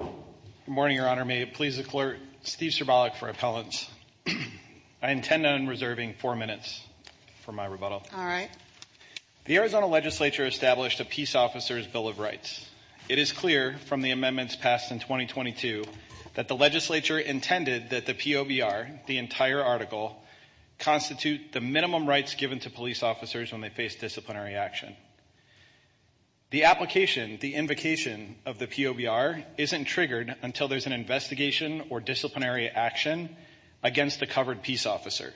Good morning, Your Honor. May it please the Clerk, Steve Cerbalic for Appellants. I intend on reserving four minutes for my rebuttal. The Arizona Legislature established a Peace Officers Bill of Rights. It is clear from the amendments passed in 2022 that the Legislature intended that the POBR, the entire article, constitute the minimum rights given to police officers when they face disciplinary action. The application, the invocation of the POBR isn't triggered until there's an investigation or disciplinary action against a covered peace officer.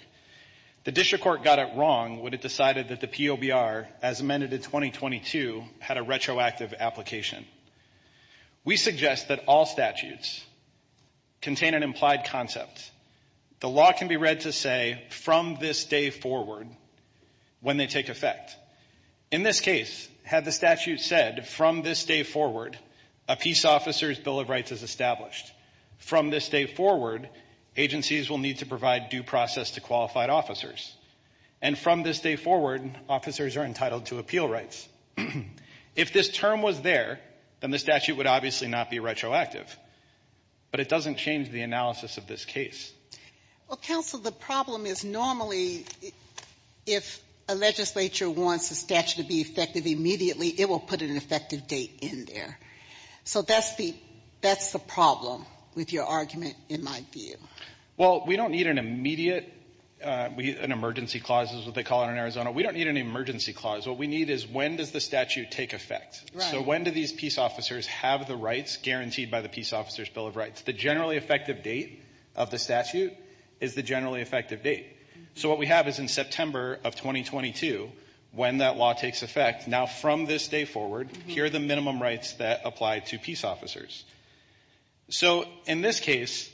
The District Court got it wrong when it decided that the POBR, as amended in 2022, had a retroactive application. We suggest that all statutes contain an implied concept. The law can be read to say, from this day forward, when they take effect. In this case, had the statute said, from this day forward, a Peace Officers Bill of Rights is established. From this day forward, agencies will need to provide due process to qualified officers. And from this day forward, officers are entitled to appeal rights. If this term was there, then the statute would obviously not be retroactive. But it doesn't change the analysis of this case. Well, counsel, the problem is normally, if a legislature wants a statute to be effective immediately, it will put an effective date in there. So that's the problem with your argument, in my view. Well, we don't need an immediate, an emergency clause is what they call it in Arizona. We don't need an emergency clause. What we need is when does the statute take effect? So when do these officers have the rights guaranteed by the Peace Officers Bill of Rights? The generally effective date of the statute is the generally effective date. So what we have is in September of 2022, when that law takes effect. Now, from this day forward, here are the minimum rights that apply to peace officers. So in this case,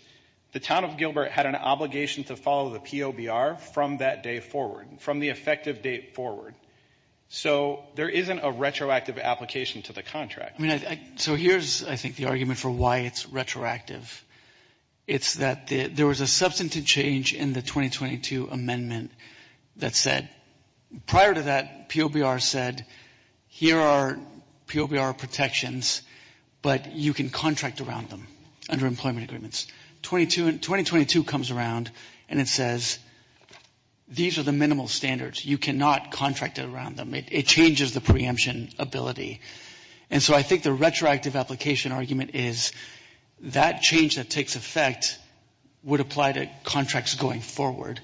the town of Gilbert had an obligation to follow the POBR from that day forward, from the effective date forward. So there isn't a retroactive application to the contract. So here's, I think, the argument for why it's retroactive. It's that there was a substantive change in the 2022 amendment that said, prior to that, POBR said, here are POBR protections, but you can contract around them under employment agreements. 2022 comes around and it says, these are the minimal standards. You cannot contract it around them. It changes the ability. And so I think the retroactive application argument is that change that takes effect would apply to contracts going forward.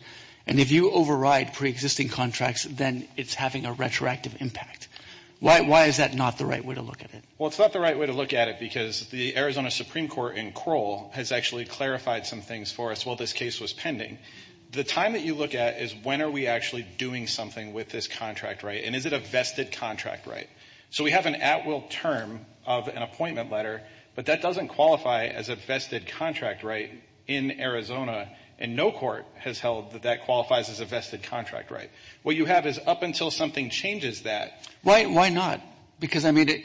And if you override preexisting contracts, then it's having a retroactive impact. Why is that not the right way to look at it? Well, it's not the right way to look at it because the Arizona Supreme Court in Kroll has actually clarified some things for us while this case was pending. The time that you look at is when are we actually doing something with this contract right? And is it a vested contract right? So we have an at-will term of an appointment letter, but that doesn't qualify as a vested contract right in Arizona. And no court has held that that qualifies as a vested contract right. What you have is up until something changes that. Why not? Because, I mean,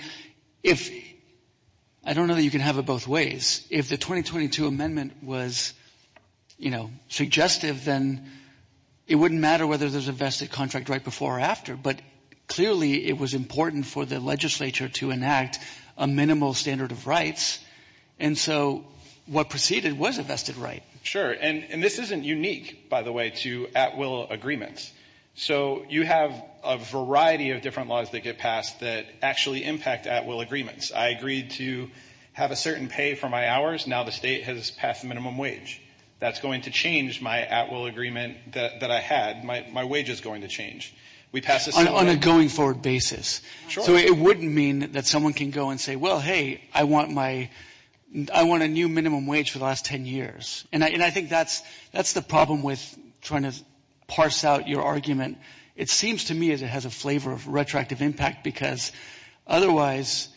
if, I don't know that you can have it both ways. If the 2022 wouldn't matter whether there's a vested contract right before or after, but clearly it was important for the legislature to enact a minimal standard of rights. And so what proceeded was a vested right. Sure. And this isn't unique, by the way, to at-will agreements. So you have a variety of different laws that get passed that actually impact at-will agreements. I agreed to have a certain pay for my hours. Now the state has passed the minimum wage. That's going to change my at-will agreement that I had. My wage is going to change. We passed this on a going forward basis. So it wouldn't mean that someone can go and say, well, hey, I want my, I want a new minimum wage for the last 10 years. And I think that's, that's the problem with trying to parse out your argument. It seems to me as it has a flavor of retroactive impact because otherwise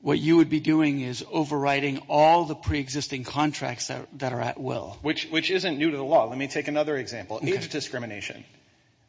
what you would be doing is overriding all the pre-existing contracts that are at-will. Which isn't new to the law. Let me take another example. Age discrimination.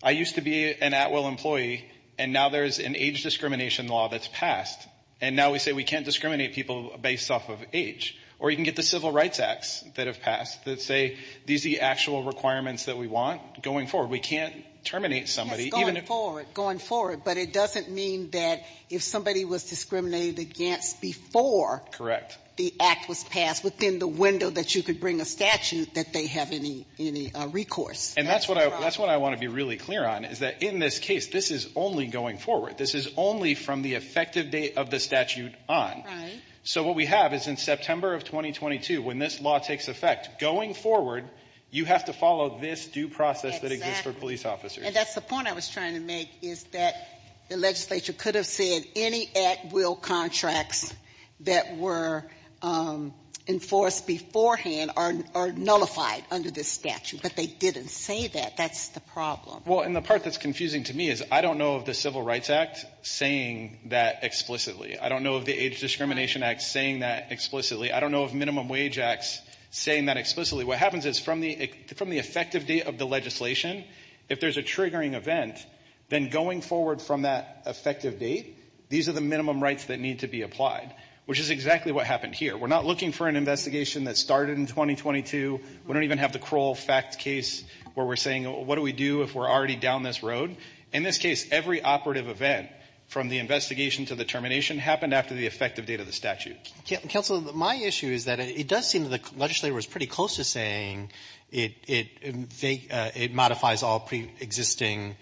I used to be an at-will employee and now there's an age discrimination law that's passed. And now we say we can't discriminate people based off of age. Or you can get the Civil Rights Acts that have passed that say these are the actual requirements that we want going forward. We can't terminate somebody. Going forward. Going forward. But it doesn't mean that if somebody was discriminated against before. Correct. The act was passed within the window that you could bring a statute that they have any, any recourse. And that's what I, that's what I want to be really clear on is that in this case, this is only going forward. This is only from the effective date of the statute on. Right. So what we have is in September of 2022, when this law takes effect, going forward, you have to follow this due process that exists for police officers. And that's the point I was trying to make is that the legislature could have said any at-will contracts that were enforced beforehand are nullified under this statute. But they didn't say that. That's the problem. Well, and the part that's confusing to me is I don't know of the Civil Rights Act saying that explicitly. I don't know of the Age Discrimination Act saying that explicitly. I don't know of Minimum Wage Acts saying that explicitly. What happens is from the effective date of the legislation, if there's a triggering event, then going forward from that effective date, these are the minimum rights that need to be applied, which is exactly what happened here. We're not looking for an investigation that started in 2022. We don't even have the Kroll fact case where we're saying, what do we do if we're already down this road? In this case, every operative event from the investigation to the termination happened after the effective date of the statute. Counselor, my issue is that it does seem that the legislature was pretty close to saying it modifies all pre-existing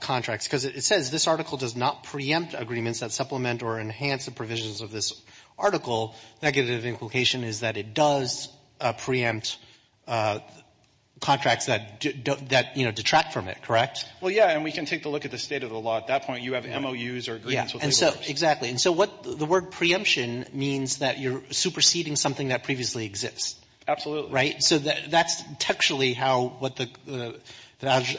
contracts because it says this article does not preempt agreements that supplement or enhance the provisions of this article. Negative implication is that it does preempt contracts that detract from it, correct? Well, yeah, and we can take a look at the state of the law. At that point, you have MOUs or agreements with legislators. Exactly. And so the word preemption means that you're superseding something that previously exists. Absolutely. Right? So that's textually what the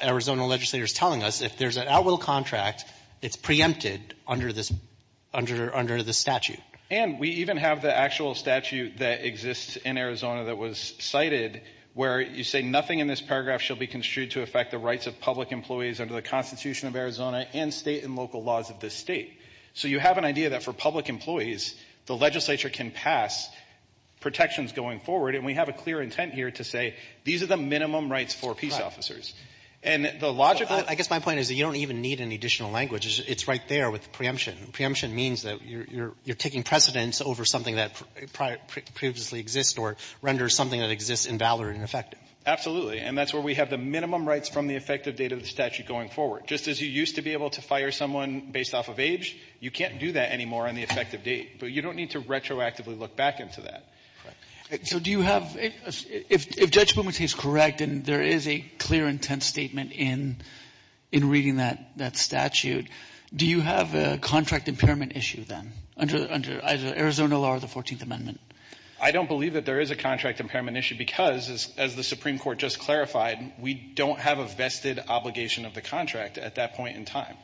Arizona legislator is telling us. If there's an outwill contract, it's preempted under this statute. And we even have the actual statute that exists in Arizona that was cited where you say nothing in this paragraph shall be construed to affect the rights of public employees under the Constitution of Arizona and state and local laws of this state. So you have an idea that for public employees, the legislature can pass protections going forward, and we have a clear intent here to say these are the minimum rights for peace officers. And the logic of it — I guess my point is that you don't even need any additional language. It's right there with the preemption. Preemption means that you're taking precedence over something that previously exists or renders something that exists invalid and ineffective. Absolutely. And that's where we have the minimum rights from the effective date of the statute going forward. Just as you used to be able to fire someone based off of age, you can't do that anymore on the effective date. But you don't need to retroactively look back into that. So do you have — if Judge Bumate is correct, and there is a clear intent statement in reading that statute, do you have a contract impairment issue then under either Arizona law or the 14th Amendment? I don't believe that there is a contract impairment issue because, as the Supreme Court just clarified, we don't have a vested obligation of the contract at that point in time.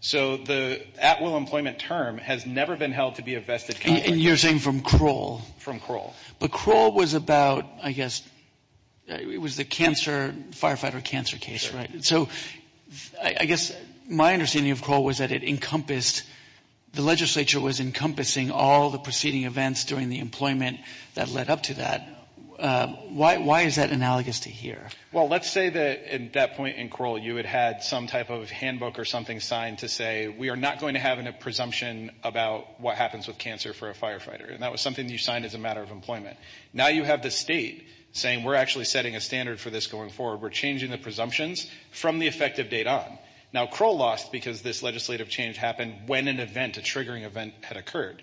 So the at-will employment term has never been held to be a vested contract. And you're saying from Kroll? From Kroll. But Kroll was about, I guess, it was the firefighter cancer case, right? So I guess my understanding of Kroll was that it encompassed — the legislature was encompassing all the preceding events during the employment that led up to that. Why is that analogous to here? Well, let's say that at that point in Kroll you had had some type of handbook or something signed to say, we are not going to have a presumption about what happens with cancer for a firefighter. And that was something you signed as a matter of employment. Now you have the state saying, we're actually setting a standard for this going forward. We're changing the presumptions from the effective date on. Now, Kroll lost because this legislative change happened when an event, a triggering event, had occurred.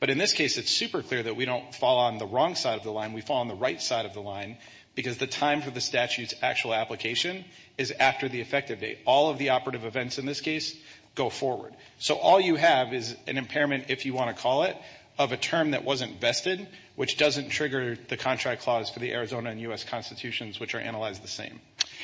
But in this case, it's super clear that we don't fall on the wrong side of the line. We fall on the right side of the line because the time for the statute's actual application is after the effective date. All of the operative events in this case go forward. So all you have is an impairment, if you want to call it, of a term that wasn't vested, which doesn't trigger the contract clause for the Arizona and U.S. constitutions, which are analyzed the same.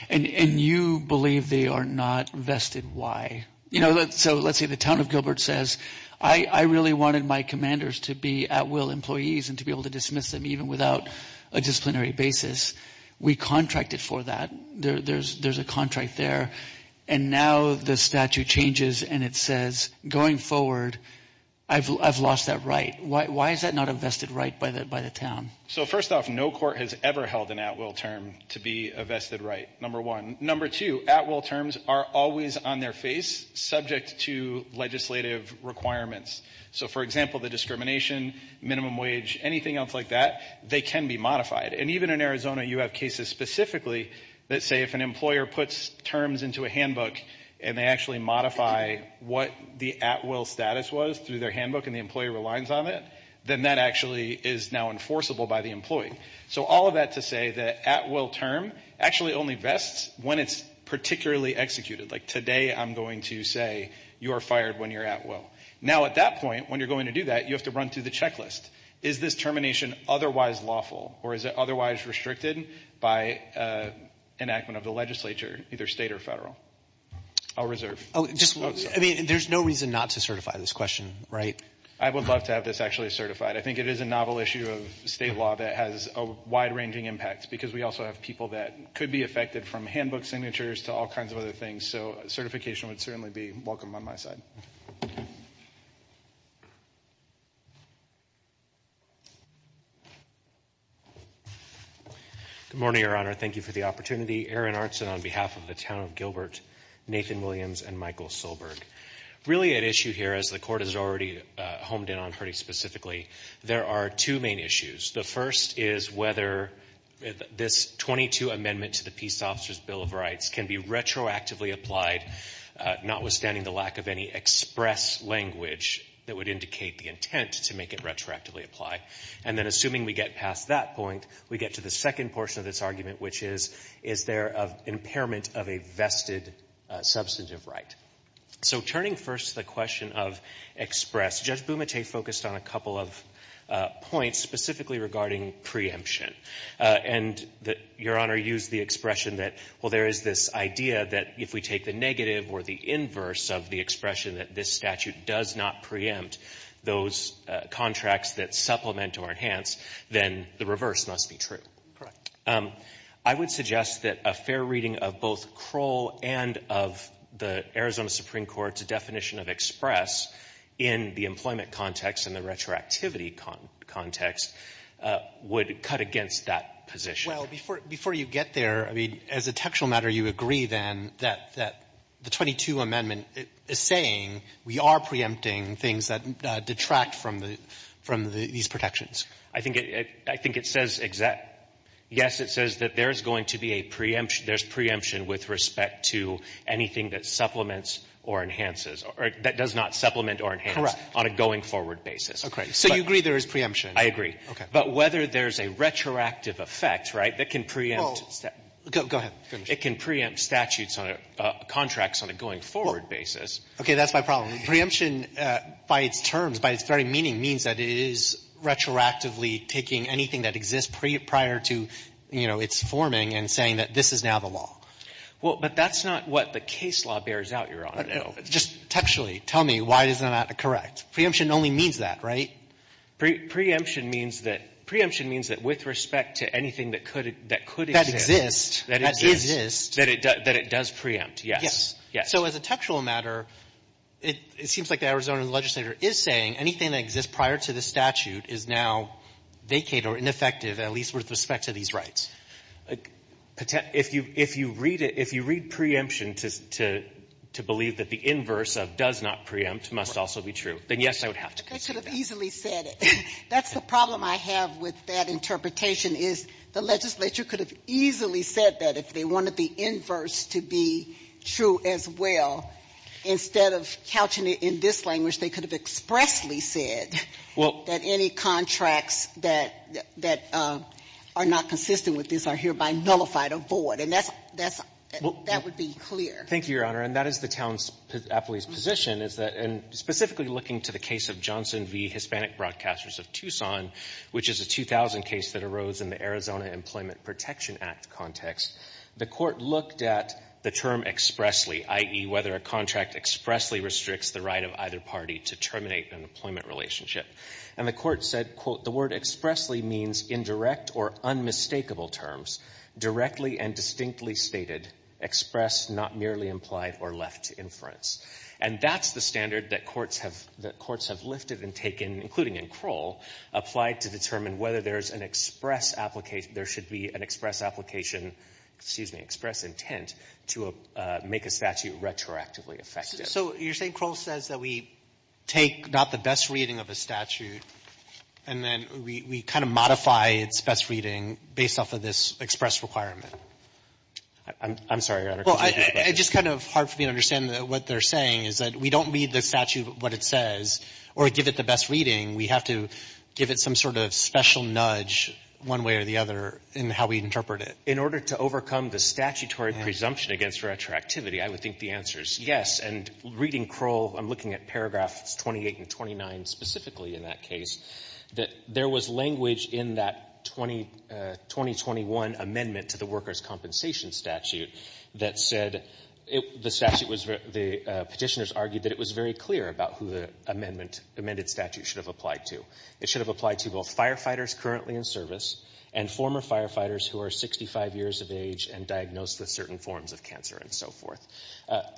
And you believe they are not vested. You know, so let's say the town of Gilbert says, I really wanted my commanders to be at will employees and to be able to dismiss them even without a disciplinary basis. We contracted for that. There's a contract there. And now the statute changes and it says, going forward, I've lost that right. Why is that not a vested right by the town? So first off, no court has ever held an at will term to be a vested right, number one. Number two, at will terms are always on their face, subject to legislative requirements. So for example, the discrimination, minimum wage, anything else like that, they can be modified. And even in Arizona, you have cases specifically that say if an employer puts terms into a handbook and they actually modify what the at will status was through their handbook and the employee relies on it, then that actually is now enforceable by the employee. So all of that to say that at will term actually only vests when it's particularly executed. Like today, I'm going to say you are fired when you're at will. Now, at that point, when you're going to do that, you have to run through the checklist. Is this termination otherwise lawful or is it otherwise restricted by enactment of the legislature, either state or federal? I'll reserve. Oh, just one. I mean, there's no reason not to certify this question, right? I would love to have this actually certified. I think it is a novel issue of state law that has a wide ranging impact because we also have people that could be affected from handbook signatures to all kinds of other things. So certification would certainly be welcome on my side. Good morning, Your Honor. Thank you for the opportunity. Aaron Arntzen on behalf of the town of Gilbert, Nathan Williams, and Michael Solberg. Really at issue here, as the court has already homed in on pretty specifically, there are two main issues. The first is whether this 22 amendment to the Peace Officer's Bill of Rights can be retroactively applied, notwithstanding the lack of any express language that would indicate the intent to make it retroactively apply. And then assuming we get past that point, we get to the second portion of this argument, which is, is there an impairment of a vested substantive right? So turning first to the question of express, Judge Bumate focused on a couple of points specifically regarding preemption. And Your Honor used the expression that, well, there is this idea that if we take the negative or the inverse of the expression that this statute does not preempt those contracts that supplement or enhance, then the reverse must be true. Correct. I would suggest that a fair reading of both Kroll and of the Arizona Supreme Court's definition of express in the employment context and the retroactivity context would cut against that position. Before you get there, I mean, as a textual matter, you agree then that the 22 amendment is saying we are preempting things that detract from these protections. I think it says exactly. Yes, it says that there's going to be a preemption. There's preemption with respect to anything that supplements or enhances or that does not supplement or enhance on a going forward basis. Okay. So you agree there is preemption? I agree. Okay. But whether there's a retroactive effect, right, that can preempt statutes Go ahead. It can preempt statutes on a contracts on a going forward basis. Okay. That's my problem. Preemption by its terms, by its very meaning, means that it is retroactively taking anything that exists prior to, you know, its forming and saying that this is now the law. Well, but that's not what the case law bears out, Your Honor. Just textually tell me why isn't that correct? Preemption only means that, right? Preemption means that with respect to anything that could exist. That exists. That exists. That it does preempt, yes. Yes. Yes. So as a textual matter, it seems like the Arizona legislator is saying anything that exists prior to the statute is now vacate or ineffective, at least with respect to these rights. If you read it, if you read preemption to believe that the inverse of does not preempt must also be true, then, yes, I would have to consider that. They could have easily said it. That's the problem I have with that interpretation, is the legislature could have easily said that if they wanted the inverse to be true as well, instead of couching it in this language, they could have expressly said that any contracts that are not consistent with this are hereby nullified or void, and that's — that would be clear. Thank you, Your Honor, and that is the town's — appellee's position, is that — and in the Johnson v. Hispanic Broadcasters of Tucson, which is a 2000 case that arose in the Arizona Employment Protection Act context, the court looked at the term expressly, i.e. whether a contract expressly restricts the right of either party to terminate an employment relationship, and the court said, quote, the word expressly means indirect or unmistakable terms, directly and distinctly stated, expressed, not merely implied, or left to inference. And that's the standard that courts have — that courts have lifted and taken, including in Kroll, applied to determine whether there's an express application — there should be an express application — excuse me, express intent to make a statute retroactively effective. So you're saying Kroll says that we take not the best reading of a statute, and then we kind of modify its best reading based off of this express requirement? I'm sorry, Your Honor. It's just kind of hard for me to understand what they're saying, is that we don't read the statute what it says or give it the best reading. We have to give it some sort of special nudge one way or the other in how we interpret it. In order to overcome the statutory presumption against retroactivity, I would think the answer is yes. And reading Kroll, I'm looking at paragraphs 28 and 29 specifically in that case, that there was language in that 2021 amendment to the workers' compensation statute that said — the statute was — the petitioners argued that it was very clear about who the amendment — amended statute should have applied to. It should have applied to both firefighters currently in service and former firefighters who are 65 years of age and diagnosed with certain forms of cancer and so forth.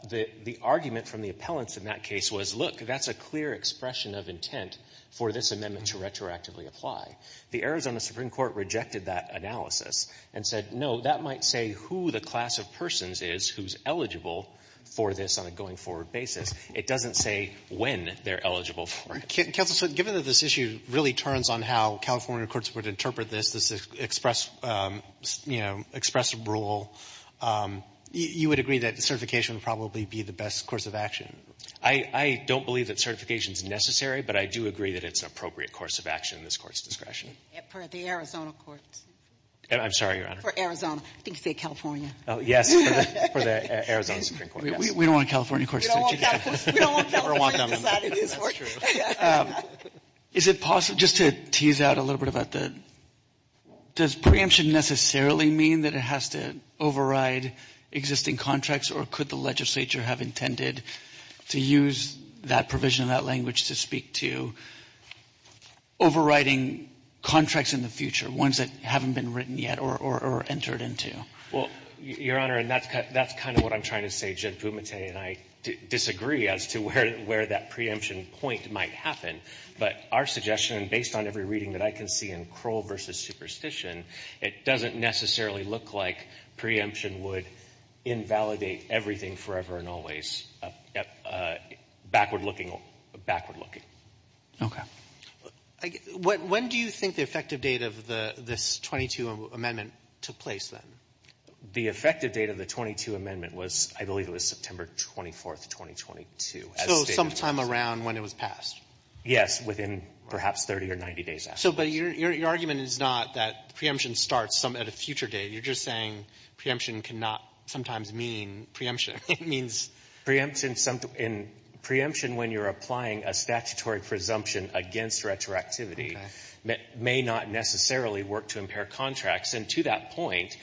The argument from the appellants in that case was, look, that's a clear expression of intent for this amendment to retroactively apply. The Arizona Supreme Court rejected that analysis and said, no, that might say who the class of persons is who's eligible for this on a going-forward basis. It doesn't say when they're eligible for it. So given that this issue really turns on how California courts would interpret this, this express, you know, express rule, you would agree that certification would probably be the best course of action? I don't believe that certification is necessary, but I do agree that it's an appropriate course of action in this Court's discretion. For the Arizona courts. I'm sorry, Your Honor. For Arizona. I think you said California. Oh, yes, for the Arizona Supreme Court, yes. We don't want California courts to reject it. We don't want California to decide it is for. That's true. Is it possible — just to tease out a little bit about the — does preemption necessarily mean that it has to override existing contracts, or could the legislature have intended to use that provision of that language to speak to overriding contracts in the future, ones that haven't been written yet or entered into? Well, Your Honor, and that's kind of what I'm trying to say. Jen Pumente and I disagree as to where that preemption point might happen. But our suggestion, based on every reading that I can see in Kroll v. Superstition, it doesn't necessarily look like preemption would invalidate everything forever and always. Backward-looking. Backward-looking. Okay. When do you think the effective date of this 22 amendment took place, then? The effective date of the 22 amendment was, I believe, it was September 24th, 2022. So sometime around when it was passed. Yes, within perhaps 30 or 90 days after. But your argument is not that preemption starts at a future date. You're just saying preemption cannot sometimes mean preemption. It means — Preemption — preemption when you're applying a statutory presumption against retroactivity may not necessarily work to impair contracts. And to that point,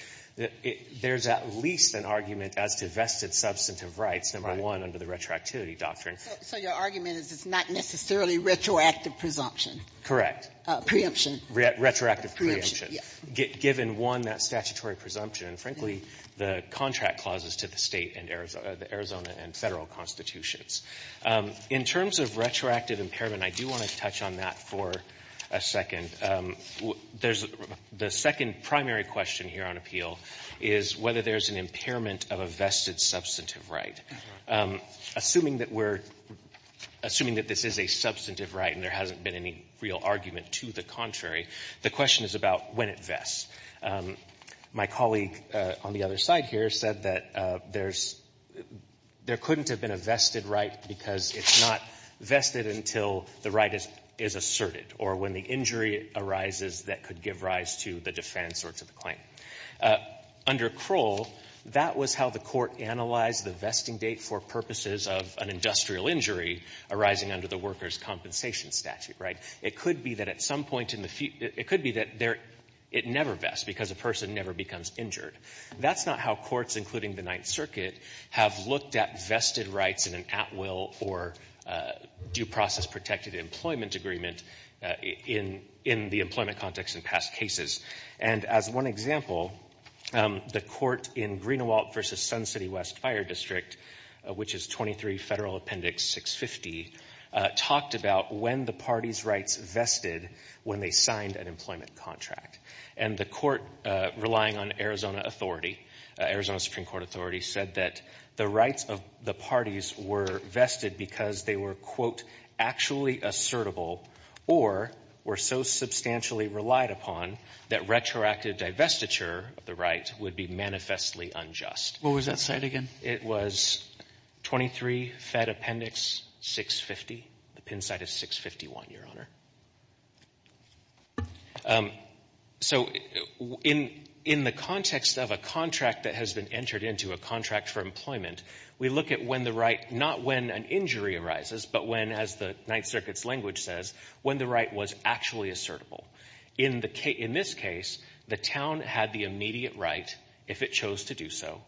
there's at least an argument as to vested substantive rights, number one, under the retroactivity doctrine. So your argument is it's not necessarily retroactive presumption? Correct. Preemption. Retroactive preemption, given, one, that statutory presumption. And, frankly, the contract clauses to the State and Arizona — the Arizona and Federal constitutions. In terms of retroactive impairment, I do want to touch on that for a second. The second primary question here on appeal is whether there's an impairment of a vested substantive right. Assuming that we're — assuming that this is a substantive right and there hasn't been any real argument to the contrary, the question is about when it vests. My colleague on the other side here said that there's — there couldn't have been a vested right because it's not vested until the right is asserted or when the injury arises that could give rise to the defense or to the claim. Under Kroll, that was how the Court analyzed the vesting date for purposes of an industrial injury arising under the workers' compensation statute, right? It could be that at some point in the — it could be that it never vests because a person never becomes injured. That's not how courts, including the Ninth Circuit, have looked at vested rights in an at-will or due process protected employment agreement in the employment context in past cases. And as one example, the court in Greenewalt v. Sun City West Fire District, which is 23 Federal Appendix 650, talked about when the parties' rights vested when they signed an employment contract. And the court relying on Arizona authority, Arizona Supreme Court authority, said that the rights of the parties were vested because they were, quote, actually assertable or were so substantially relied upon that retroactive divestiture of the right would be manifestly unjust. What was that site again? It was 23 Fed Appendix 650, the pin site of 651, Your Honor. So in the context of a contract that has been entered into, a contract for employment, we look at when the right — not when an injury arises, but when, as the Ninth Circuit's language says, when the right was actually assertable. In this case, the town had the immediate right, if it chose to do so,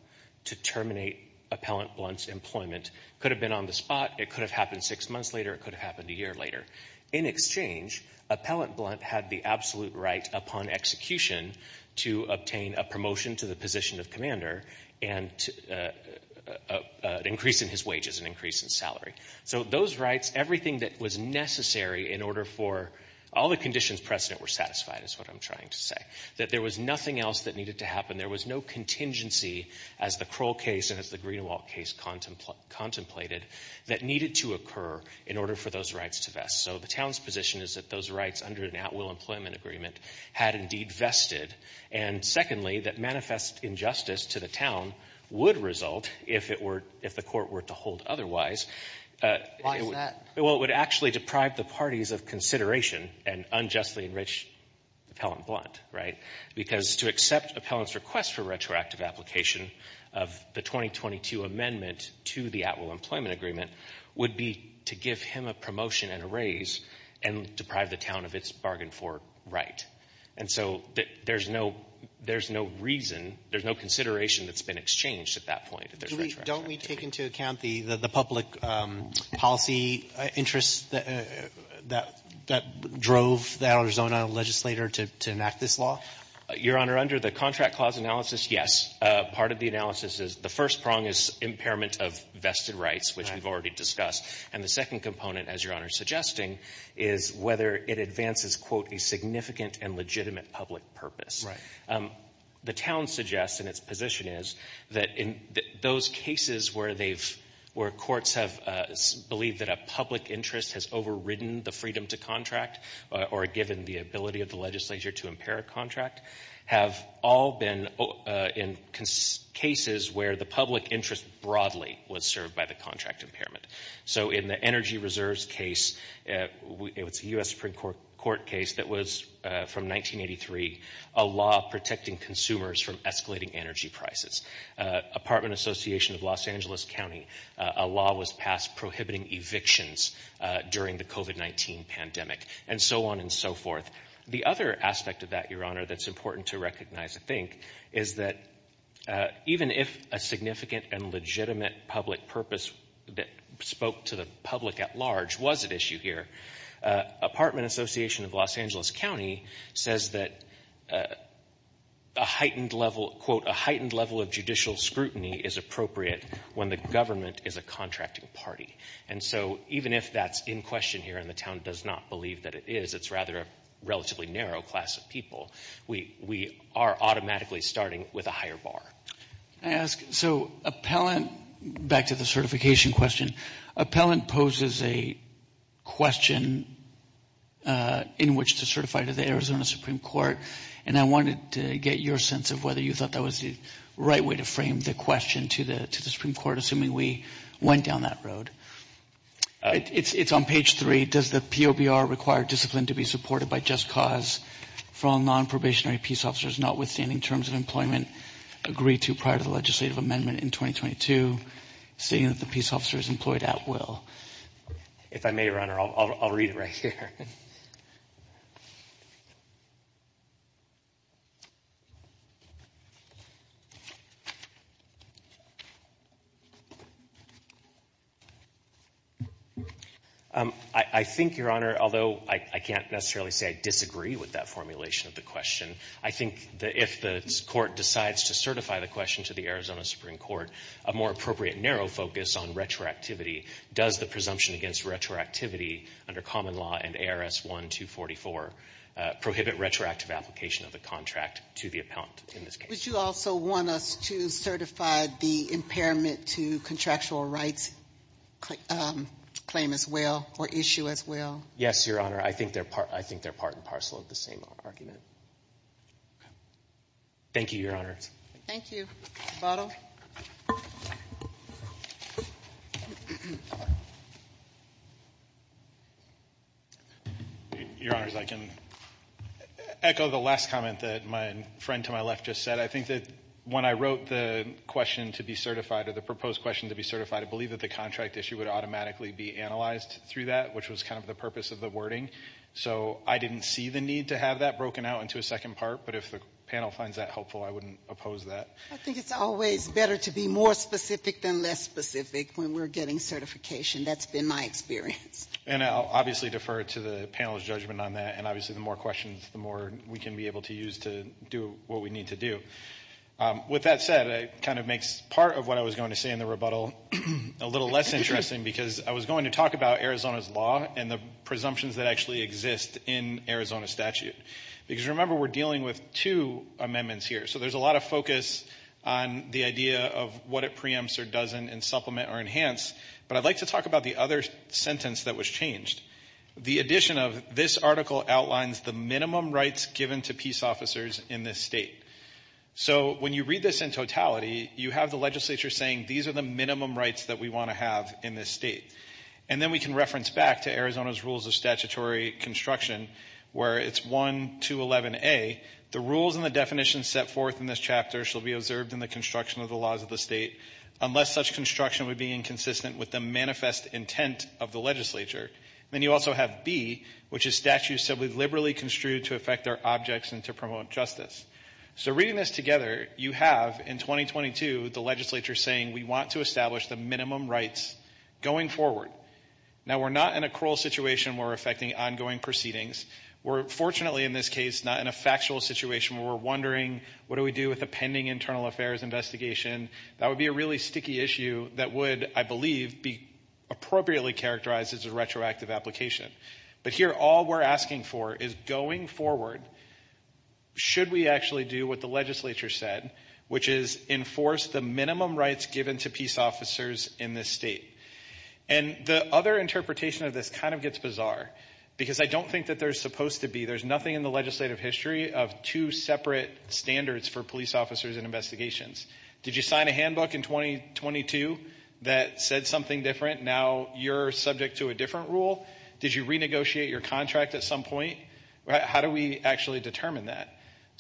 to terminate Appellant Blunt's employment. It could have been on the spot. It could have happened six months later. It could have happened a year later. In exchange, Appellant Blunt had the absolute right upon execution to obtain a promotion to the position of commander and an increase in his wages, an increase in salary. So those rights, everything that was necessary in order for — all the conditions precedent were satisfied, is what I'm trying to say. That there was nothing else that needed to happen. There was no contingency, as the Kroll case and as the Greenewalt case contemplated, that needed to occur in order for those rights to vest. So the town's position is that those rights, under an at-will employment agreement, had indeed vested. And secondly, that manifest injustice to the town would result, if the court were to hold otherwise — Why is that? Well, it would actually deprive the parties of consideration and unjustly enrich Appellant Blunt, right? Because to accept Appellant's request for retroactive application of the 2022 amendment to the at-will employment agreement would be to give him a promotion and a raise and deprive the town of its bargain for right. And so there's no — there's no reason, there's no consideration that's been exchanged at that point. Don't we take into account the public policy interests that drove the Arizona legislator to enact this law? Your Honor, under the Contract Clause analysis, yes. Part of the analysis is — the first prong is impairment of vested rights, which we've already discussed. And the second component, as Your Honor is suggesting, is whether it advances, quote, a significant and legitimate public purpose. Right. The town suggests, and its position is, that in those cases where they've — where courts have believed that a public interest has overridden the freedom to contract or given the ability of the legislature to impair a contract have all been in cases where the public interest broadly was served by the contract impairment. So in the Energy Reserves case, it's a U.S. Supreme Court case that was, from 1983, a law protecting consumers from escalating energy prices. Apartment Association of Los Angeles County, a law was passed prohibiting evictions during the COVID-19 pandemic, and so on and so forth. The other aspect of that, Your Honor, that's important to recognize, I think, is that even if a significant and legitimate public purpose that spoke to the public at large was at issue here, Apartment Association of Los Angeles County says that a heightened level, quote, a heightened level of judicial scrutiny is appropriate when the government is a contracting party. And so even if that's in question here and the town does not believe that it is, it's rather a relatively narrow class of people, we are automatically starting with a higher bar. Can I ask, so appellant, back to the certification question, appellant poses a question in which to certify to the Arizona Supreme Court, and I wanted to get your sense of whether you thought that was the right way to frame the question to the Supreme Court, assuming we went down that road. It's on page three. Does the POBR require discipline to be supported by just cause from non-probationary peace officers, notwithstanding terms of employment, agree to prior to the legislative amendment in 2022, stating that the peace officer is employed at will? If I may, Your Honor, I'll read it right here. I think, Your Honor, although I can't necessarily say I disagree with that formulation of the question, I think that if the court decides to certify the question to the Arizona Supreme Court, a more appropriate narrow focus on retroactivity, does the presumption against retroactivity under common law and ARS 1-244 prohibit retroactive application of the contract to the appellant in this case? Would you also want us to certify the impairment to contractual rights claim as well or issue as well? Yes, Your Honor. I think they're part and parcel of the same argument. Okay. Thank you, Your Honors. Thank you. Bottle? Your Honors, I can echo the last comment that my friend to my left just said. I think that when I wrote the question to be certified or the proposed question to be certified, I believe that the contract issue would automatically be analyzed through that, which was kind of the purpose of the wording. So I didn't see the need to have that broken out into a second part, but if the panel finds that helpful, I wouldn't oppose that. I think it's always better to be more specific than less specific when we're getting certification. That's been my experience. And I'll obviously defer to the panel's judgment on that. And obviously, the more questions, the more we can be able to use to do what we need to do. With that said, it kind of makes part of what I was going to say in the rebuttal a little less interesting because I was going to talk about Arizona's law and the presumptions that actually exist in Arizona statute. Because remember, we're dealing with two amendments here. So there's a lot of focus on the idea of what it preempts or doesn't and supplement or enhance. But I'd like to talk about the other sentence that was changed. The addition of this article outlines the minimum rights given to peace officers in this state. So when you read this in totality, you have the legislature saying these are the minimum rights that we want to have in this state. And then we can reference back to Arizona's rules of statutory construction where it's 1211A, the rules and the definitions set forth in this chapter shall be observed in the construction of the laws of the state unless such construction would be inconsistent with the manifest intent of the legislature. Then you also have B, which is statute said we liberally construed to affect our objects and to promote justice. So reading this together, you have in 2022 the legislature saying we want to establish the minimum rights going forward. Now we're not in a cruel situation where we're affecting ongoing proceedings. We're fortunately in this case not in a factual situation where we're wondering what do we do with a pending internal affairs investigation. That would be a really sticky issue that would, I believe, be appropriately characterized as a retroactive application. But here all we're asking for is going forward, should we actually do what the legislature said, which is enforce the minimum rights given to peace officers in this state? And the other interpretation of this kind of gets bizarre because I don't think that they're supposed to be. There's nothing in the legislative history of two separate standards for police officers and investigations. Did you sign a handbook in 2022 that said something different? Now you're subject to a different rule? Did you renegotiate your contract at some point? How do we actually determine that?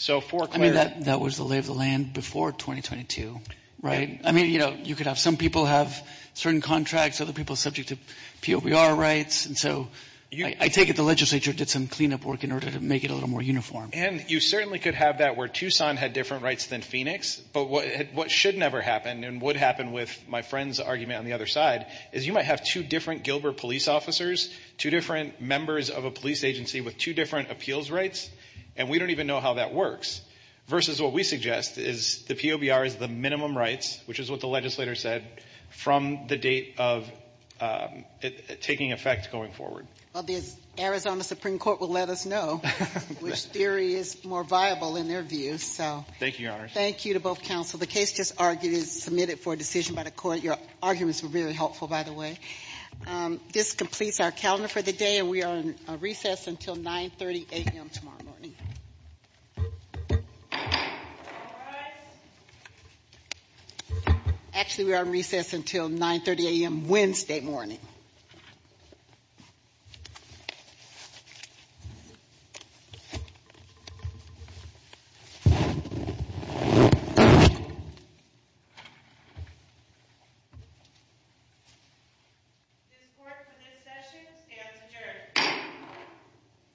I mean, that was the lay of the land before 2022, right? I mean, you know, you could have some people have certain contracts, other people subject to POBR rights. And so I take it the legislature did some cleanup work in order to make it a little more uniform. And you certainly could have that where Tucson had different rights than Phoenix. But what should never happen and would happen with my friend's argument on the other side is you might have two different Gilbert police officers, two different members of a police agency with two different appeals rights. And we don't even know how that works versus what we suggest is the POBR is the minimum rights, which is what the legislator said from the date of it taking effect going forward. Well, the Arizona Supreme Court will let us know which theory is more viable in their views. So thank you, Your Honor. Thank you to both counsel. The case just argued is submitted for a decision by the court. Your arguments were really helpful, by the way. This completes our calendar for the day, and we are on recess until 9.30 a.m. tomorrow morning. Actually, we are on recess until 9.30 a.m. Wednesday morning. This court for this session stands adjourned.